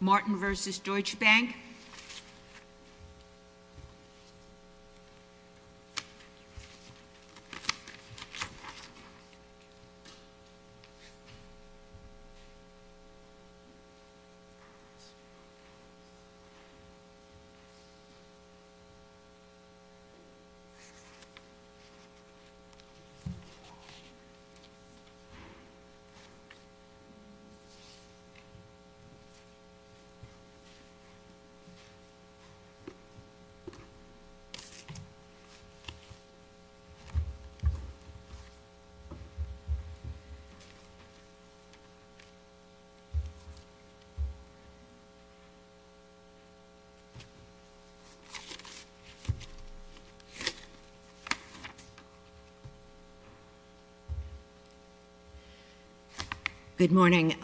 Martin v. Deutsche Bank Good morning,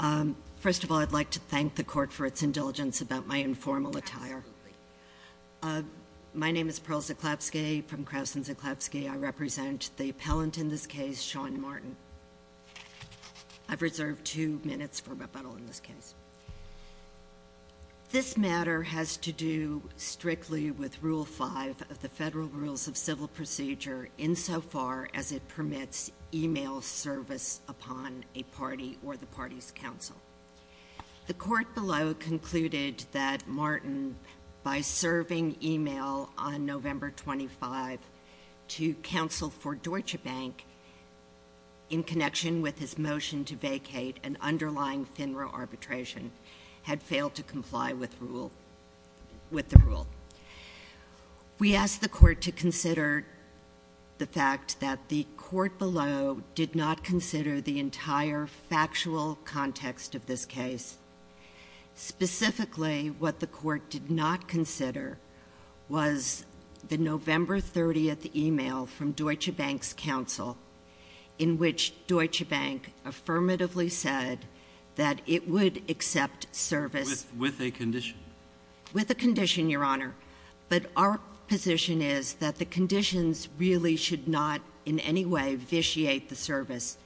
first of all I'd like to thank the court for its indulgence about my informal attire. My name is Pearl Zeklapsky from Krauss and Zeklapsky. I represent the appellant in this case, Sean Martin. I've reserved two minutes for rebuttal in this case. This matter has to do strictly with Rule 5 of the Federal Rules of Civil Procedure insofar as it permits email service upon a party or the party's counsel. The court below concluded that Martin, by serving email on November 25 to counsel for Deutsche Bank in connection with his motion to vacate an underlying FINRA arbitration, had failed to comply with the rule. We ask the court to consider the fact that the court below did not consider the entire factual context of this case. Specifically, what the court did not consider was the November 30th email from Deutsche Bank's counsel in which Deutsche Bank affirmatively said that it would accept service. With a condition. With a condition, Your Honor. But our position is that the conditions really should not in any way vitiate the service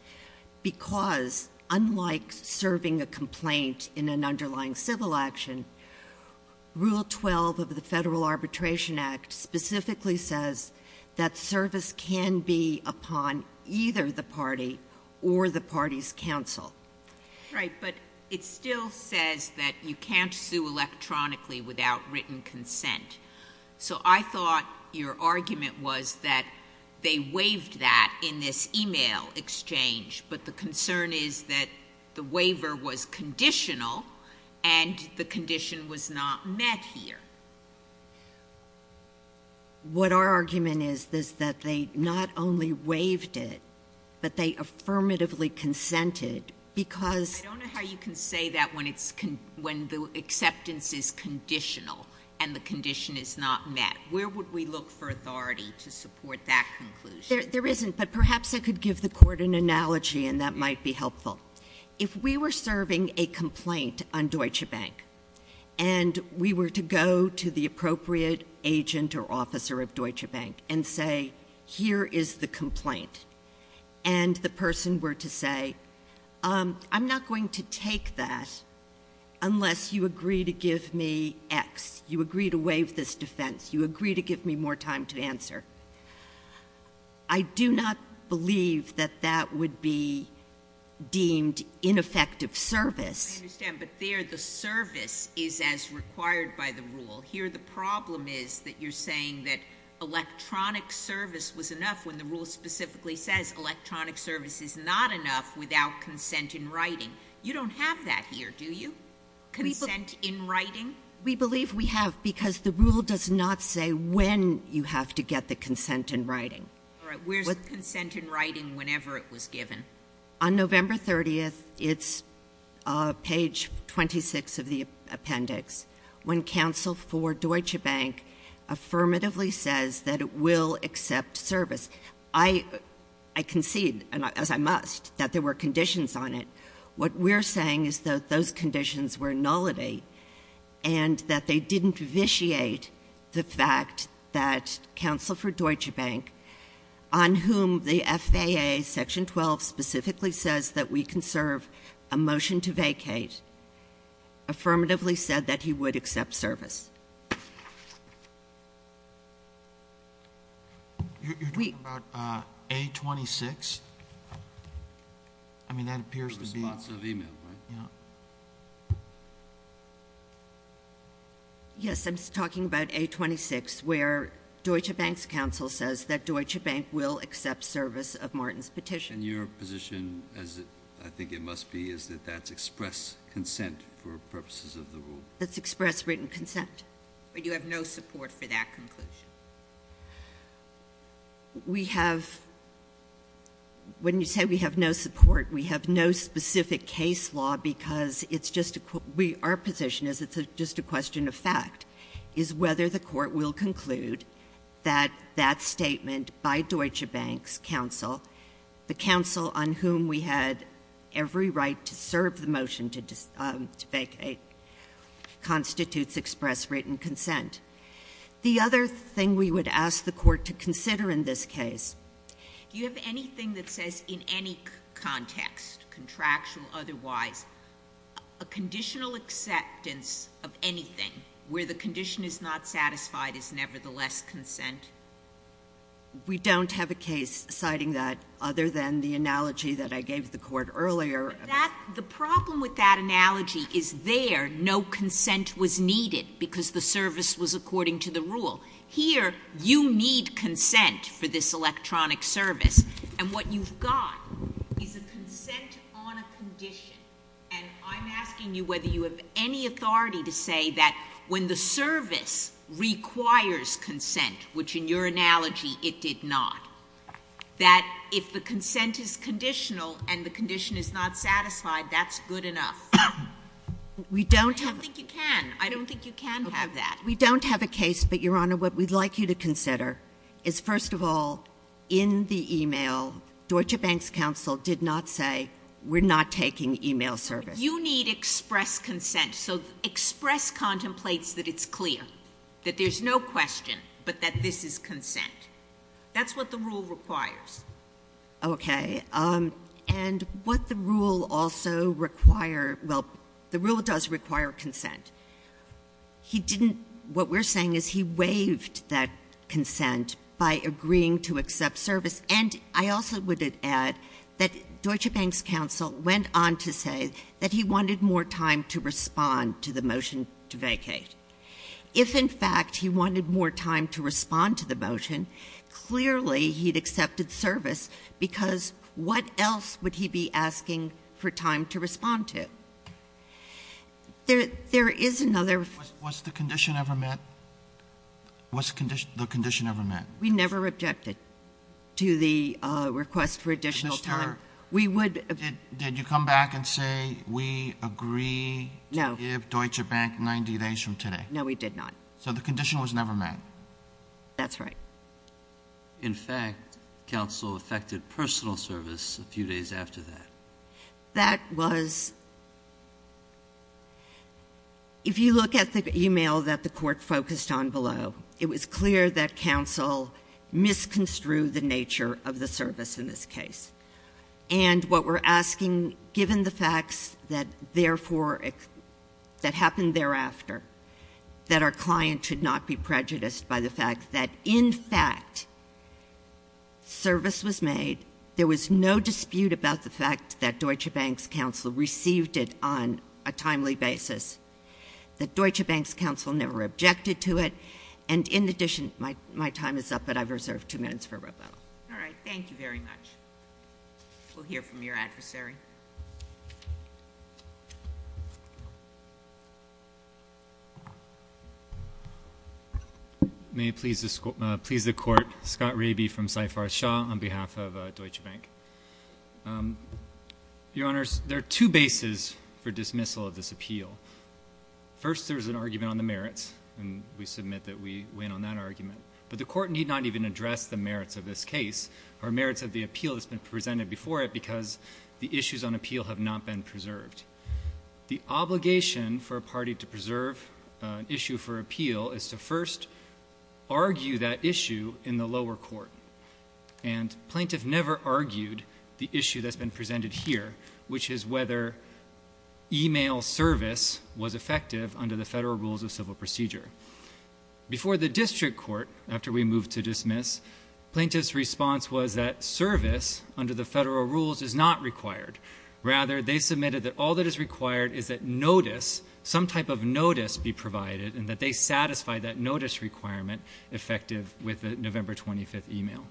because unlike serving a complaint in an underlying civil action, Rule 12 of the Federal Arbitration Act specifically says that service can be upon either the party or the party's counsel. Right. But it still says that you can't sue electronically without written consent. So I thought your argument was that they waived that in this email exchange, but the concern is that the waiver was conditional and the condition was not met here. What our argument is is that they not only waived it, but they affirmatively consented because I don't know how you can say that when it's when the acceptance is conditional and the condition is not met. Where would we look for authority to support that conclusion? There isn't, but perhaps I could give the court an analogy and that might be helpful. If we were serving a complaint on Deutsche Bank and we were to go to the appropriate agent or officer of Deutsche Bank and say, here is the complaint, and the person were to say, um, I'm not going to take that unless you agree to give me X. You agree to I do not believe that that would be deemed ineffective service. I understand, but there the service is as required by the rule. Here the problem is that you're saying that electronic service was enough when the rule specifically says electronic service is not enough without consent in writing. You don't have that here, do you? Consent in writing? We believe we have because the rule does not say when you have to get the consent in writing. All right, where's consent in writing whenever it was given? On November 30th, it's page 26 of the appendix, when counsel for Deutsche Bank affirmatively says that it will accept service. I concede, as I must, that there were conditions on it. What we're saying is that those conditions were nullity and that they didn't vitiate the fact that counsel for Deutsche Bank, on whom the FAA section 12 specifically says that we can serve a motion to vacate, affirmatively said that he would accept service. You're talking about A-26? I mean, that appears to be the case. Yes, I'm talking about A-26, where Deutsche Bank's counsel says that Deutsche Bank will accept service of Martin's petition. And your position, as I think it must be, is that that's express consent for purposes of the rule? That's express written consent. But you have no support for that conclusion? We have, when you say we have no support, we have no specific case law because it's just a question of fact, is whether the Court will conclude that that statement by Deutsche Bank's counsel, the counsel on whom we had every right to serve the motion to vacate, constitutes express written consent. The other thing we would ask the Court to consider in this case. Do you have anything that says in any context, contractual, otherwise, a conditional acceptance of anything where the condition is not satisfied is nevertheless consent? We don't have a case citing that other than the analogy that I gave the Court earlier. The problem with that analogy is there, no consent was needed because the service was according to the rule. Here, you need consent for this electronic service, and what you've got is a consent on a condition. And I'm asking you whether you have any authority to say that when the service requires consent, which in your analogy it did not, that if the consent is conditional and the condition is not satisfied, that's good enough. We don't have— I don't think you can. I don't think you can have that. We don't have a case, but, Your Honor, what we'd like you to consider is, first of all, in the email, Deutsche Bank's counsel did not say, we're not taking email service. You need express consent, so express contemplates that it's clear, that there's no question, but that this is consent. That's what the rule requires. Okay. And what the rule also require—well, the rule does require consent. He didn't—what we're saying is he waived that consent by agreeing to accept service. And I also would add that Deutsche Bank's counsel went on to say that he wanted more time to respond to the motion to vacate. If, in fact, he wanted more time to respond to the motion, clearly he'd accepted service, because what else would he be asking for time to respond to? There is another— Was the condition ever met? Was the condition ever met? We never objected to the request for additional time. Mr. Taylor, did you come back and say, we agree to give Deutsche Bank 90 days from today? No, we did not. So the condition was never met? That's right. In fact, counsel affected personal service a few days after that. That was—if you look at the email that the court focused on below, it was clear that counsel misconstrued the nature of the service in this case. And what we're asking, given the facts that, therefore, that happened thereafter, that our client should not be prejudiced by the fact that, in fact, service was made, there was no dispute about the fact that Deutsche Bank's counsel received it on a timely basis, that Deutsche Bank's counsel never objected to it, and, in addition—my time is up, but I've reserved two minutes for rebuttal. All right. Thank you very much. We'll hear from your adversary. May it please the Court, Scott Raby from Saifar Shah on behalf of Deutsche Bank. Your Honors, there are two bases for dismissal of this appeal. First, there's an argument on the merits, and we submit that we win on that argument. But the Court need not even address the merits of this case or merits of the appeal that's been presented before it because the issues on appeal have not been preserved. The obligation for a party to preserve an issue for appeal is to first argue that issue in the lower court. And plaintiff never argued the issue that's been presented here, which is whether e-mail service was effective under the federal rules of civil procedure. Before the district court, after we moved to dismiss, plaintiff's response was that they submitted that all that is required is that notice, some type of notice, be provided and that they satisfy that notice requirement effective with the November 25th e-mail.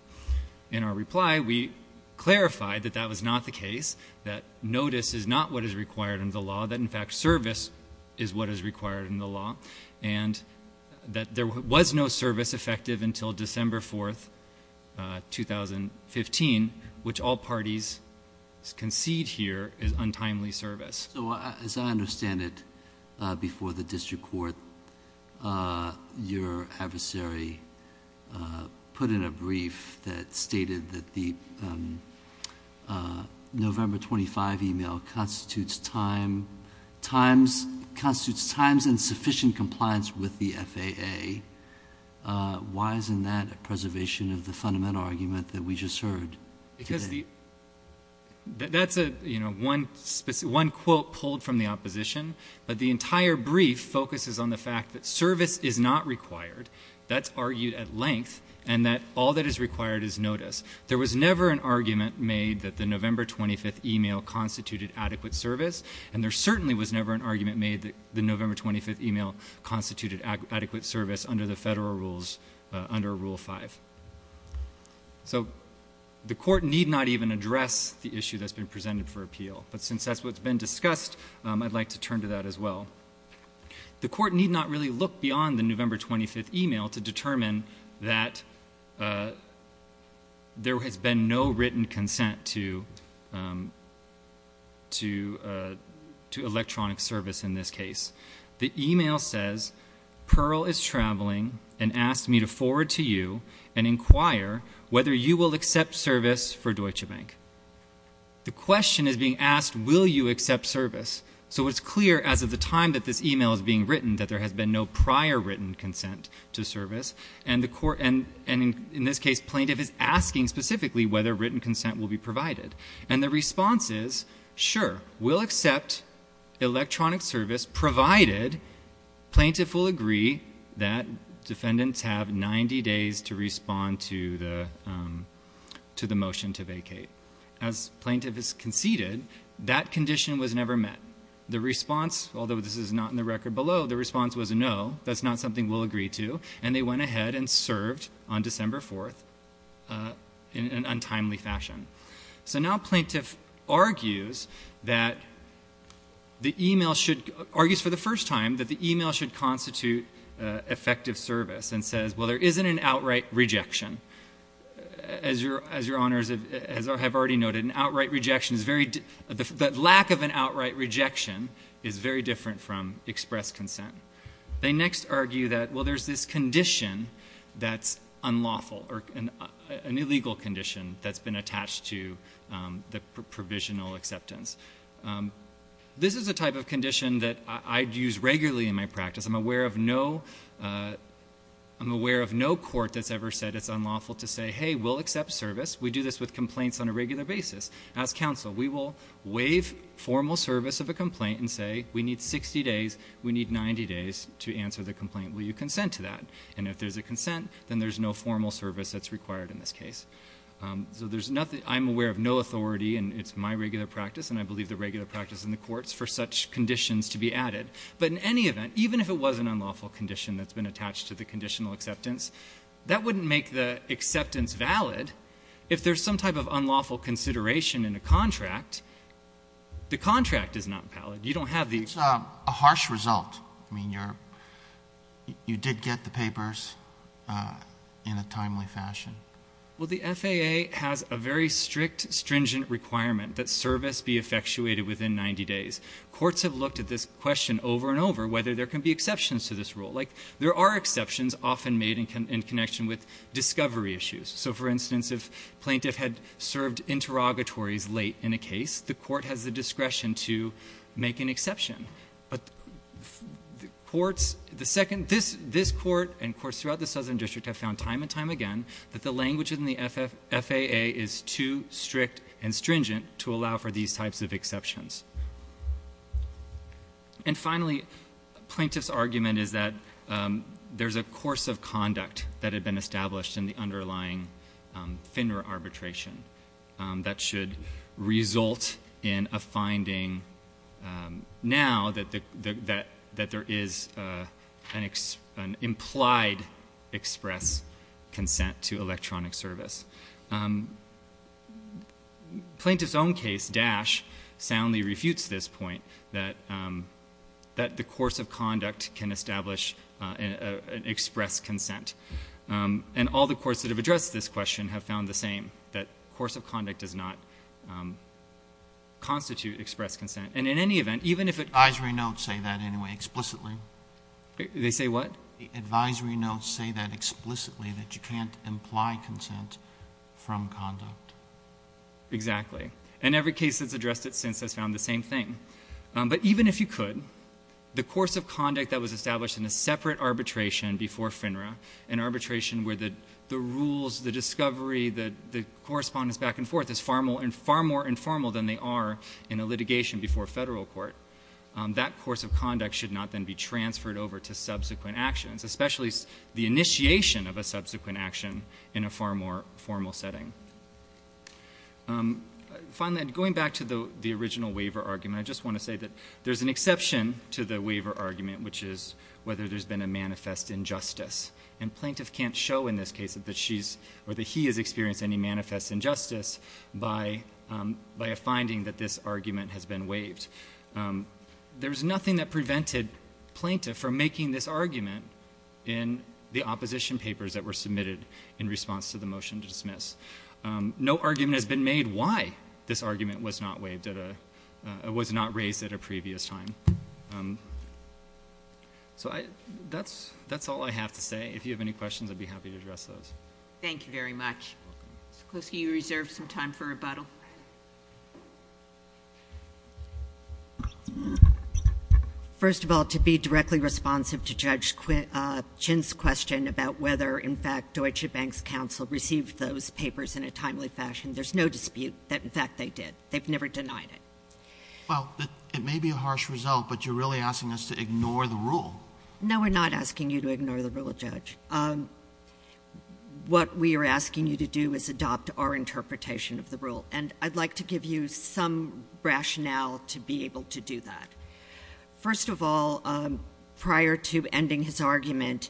In our reply, we clarified that that was not the case, that notice is not what is required in the law, that, in fact, service is what is required in the law, and that there was no service effective until December 4th, 2015, which all parties concede here is untimely service. So as I understand it, before the district court, your adversary put in a brief that stated that the November 25th e-mail constitutes time, constitutes times insufficient compliance with the FAA. Why isn't that a preservation of the fundamental argument that we just heard? Because that's one quote pulled from the opposition, but the entire brief focuses on the fact that service is not required. That's argued at length and that all that is required is notice. There was never an argument made that the November 25th e-mail constituted adequate service, and there certainly was never an argument made that the November 25th e-mail constituted adequate service under the federal rules, under Rule 5. So the court need not even address the issue that's been presented for appeal, but since that's what's been discussed, I'd like to turn to that as well. The court need not really look beyond the November 25th e-mail to determine that there has been no written consent to electronic service in this case. The e-mail says, Pearl is traveling and asked me to forward to you and inquire whether you will accept service for Deutsche Bank. The question is being asked, will you accept service? So it's clear as of the time that this e-mail is being written that there has been no prior written consent to service, and in this case plaintiff is asking specifically whether written consent will be provided. And the response is, sure, we'll accept electronic service provided plaintiff will agree that defendants have 90 days to respond to the motion to vacate. As plaintiff has conceded, that condition was never met. The response, although this is not in the record below, the response was no, that's not something we'll agree to, and they went ahead and served on December 4th in an untimely fashion. So now plaintiff argues that the e-mail should, argues for the first time that the e-mail should constitute effective service and says, well, there isn't an outright rejection. As your honors have already noted, an outright rejection is very, the lack of an outright rejection is very different from express consent. They next argue that, well, there's this condition that's unlawful or an illegal condition that's been attached to the provisional acceptance. This is a type of condition that I use regularly in my practice. I'm aware of no, I'm aware of no court that's ever said it's unlawful to say, hey, we'll accept service. We do this with complaints on a regular basis. As counsel, we will waive formal service of a complaint and say we need 60 days, we need 90 days to answer the complaint. Will you consent to that? And if there's a consent, then there's no formal service that's required in this I believe the regular practice in the courts for such conditions to be added. But in any event, even if it was an unlawful condition that's been attached to the conditional acceptance, that wouldn't make the acceptance valid. If there's some type of unlawful consideration in a contract, the contract is not valid. You don't have the It's a harsh result. I mean, you're, you did get the papers in a timely fashion. Well, the FAA has a very strict, stringent requirement that service be effectuated within 90 days. Courts have looked at this question over and over whether there can be exceptions to this rule. Like there are exceptions often made in connection with discovery issues. So for instance, if plaintiff had served interrogatories late in a case, the court has the discretion to make an exception. But the courts, the second, this, this court and courts throughout the Southern District have found time and time again that the language in the FAA is too strict and stringent to allow for these types of exceptions. And finally, plaintiff's argument is that there's a course of conduct that had been established in the underlying FINRA arbitration that should result in a finding now that there is an implied express consent to electronic service. Plaintiff's own case, Dash, soundly refutes this point that, that the course of conduct can establish an express consent. And all the courts that have addressed this question have found the same, that course of conduct does not constitute express consent. And in any event, even if it advisory notes say that anyway, explicitly, they say what advisory notes say that explicitly that you can't imply consent from conduct. Exactly. And every case that's addressed it since has found the same thing. But even if you could, the course of conduct that was established in a separate arbitration before FINRA and arbitration where the, the rules, the discovery that the correspondence back and forth is far more and far more informal than they are in a litigation before a federal court, that course of conduct should not then be transferred over to subsequent actions, especially the initiation of a subsequent action in a far more formal setting. Finally, going back to the original waiver argument, I just want to say that there's an exception to the waiver argument, which is whether there's been a manifest injustice. And plaintiff can't show in this case that she's, or that he has experienced any manifest injustice by, um, by a finding that this argument has been waived. Um, there was nothing that prevented plaintiff from making this argument in the opposition papers that were submitted in response to the motion to dismiss. Um, no argument has been made why this argument was not waived at a, uh, was not raised at a previous time. Um, so I, that's, that's all I have to say. If you have any questions, I'd be happy to address those. Thank you very much. You're welcome. Mr. Kluski, you reserved some time for rebuttal. First of all, to be directly responsive to Judge, uh, Chin's question about whether, in fact, Deutsche Bank's counsel received those papers in a timely fashion, there's no dispute that, in fact, they did. They've never denied it. Well, it may be a harsh result, but you're really asking us to ignore the rule. No, we're not asking you to ignore the rule, Judge. Um, what we are asking you to do is adopt our interpretation of the rule. And I'd like to give you some rationale to be able to do that. First of all, um, prior to ending his argument,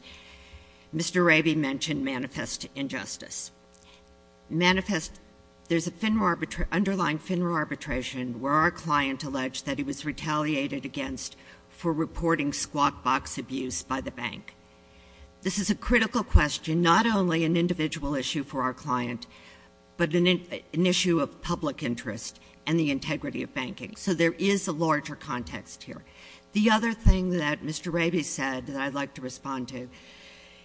Mr. Raby mentioned manifest injustice. Manifest, there's a FINRA arbitration, underlying FINRA arbitration where our client alleged that he was retaliated against for reporting squawk box abuse by the bank. This is a critical question, not only an individual issue for our client, but an issue of public interest and the integrity of banking. So there is a larger context here. The other thing that Mr. Raby said that I'd like to respond to,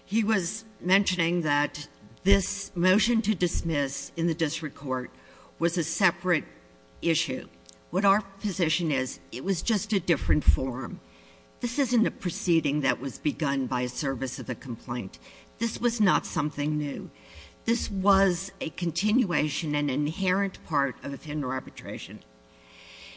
he was mentioning that this motion to dismiss in the district court was a separate issue. What our position is, it was just a different form. This isn't a proceeding that was begun by a service of the complaint. This was not something new. This was a continuation, an inherent part of FINRA arbitration.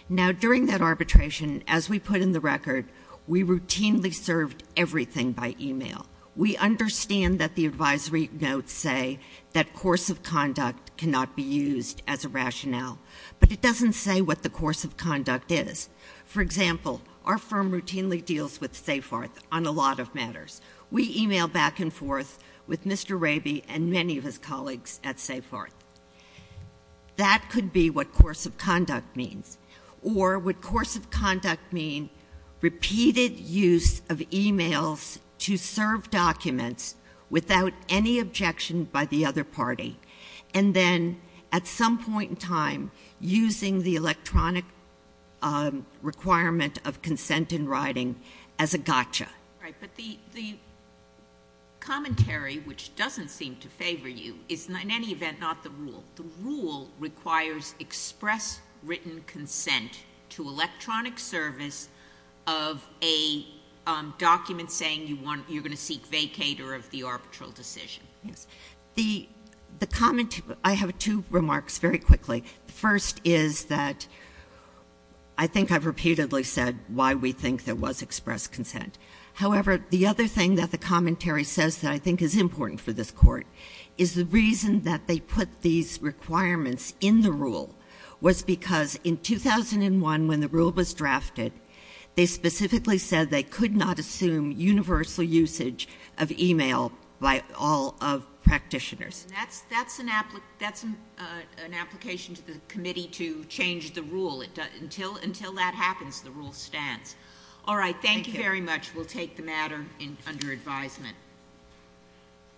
Now, during that arbitration, as we put in the record, we routinely served everything by email. We understand that the advisory notes say that course of conduct cannot be used as a rationale, but it doesn't say what the course of conduct is. For example, our firm routinely deals with SafeHeart on a lot of matters. We email back and forth with Mr. Raby and many of his colleagues at SafeHeart. That could be what course of conduct means. Or would course of conduct mean repeated use of emails to serve documents without any objection by the other party, and then at some point in time, using the electronic requirement of consent in writing as a gotcha? Right. But the commentary, which doesn't seem to favor you, is in any event not the rule. The rule requires express written consent to electronic service of a document saying you want, you're going to seek vacator of the arbitral decision. Yes. The comment, I have two remarks very quickly. The first is that I think I've repeatedly said why we think there was express consent. However, the other thing that the commentary says that I think is important for this Court is the reason that they put these requirements in the rule was because in 2001, when the rule was drafted, they specifically said they could not assume universal usage of email by all of practitioners. That's an application to the committee to change the rule. Until that happens, the rule stands. All right. Thank you very much. We'll take the matter under advisement.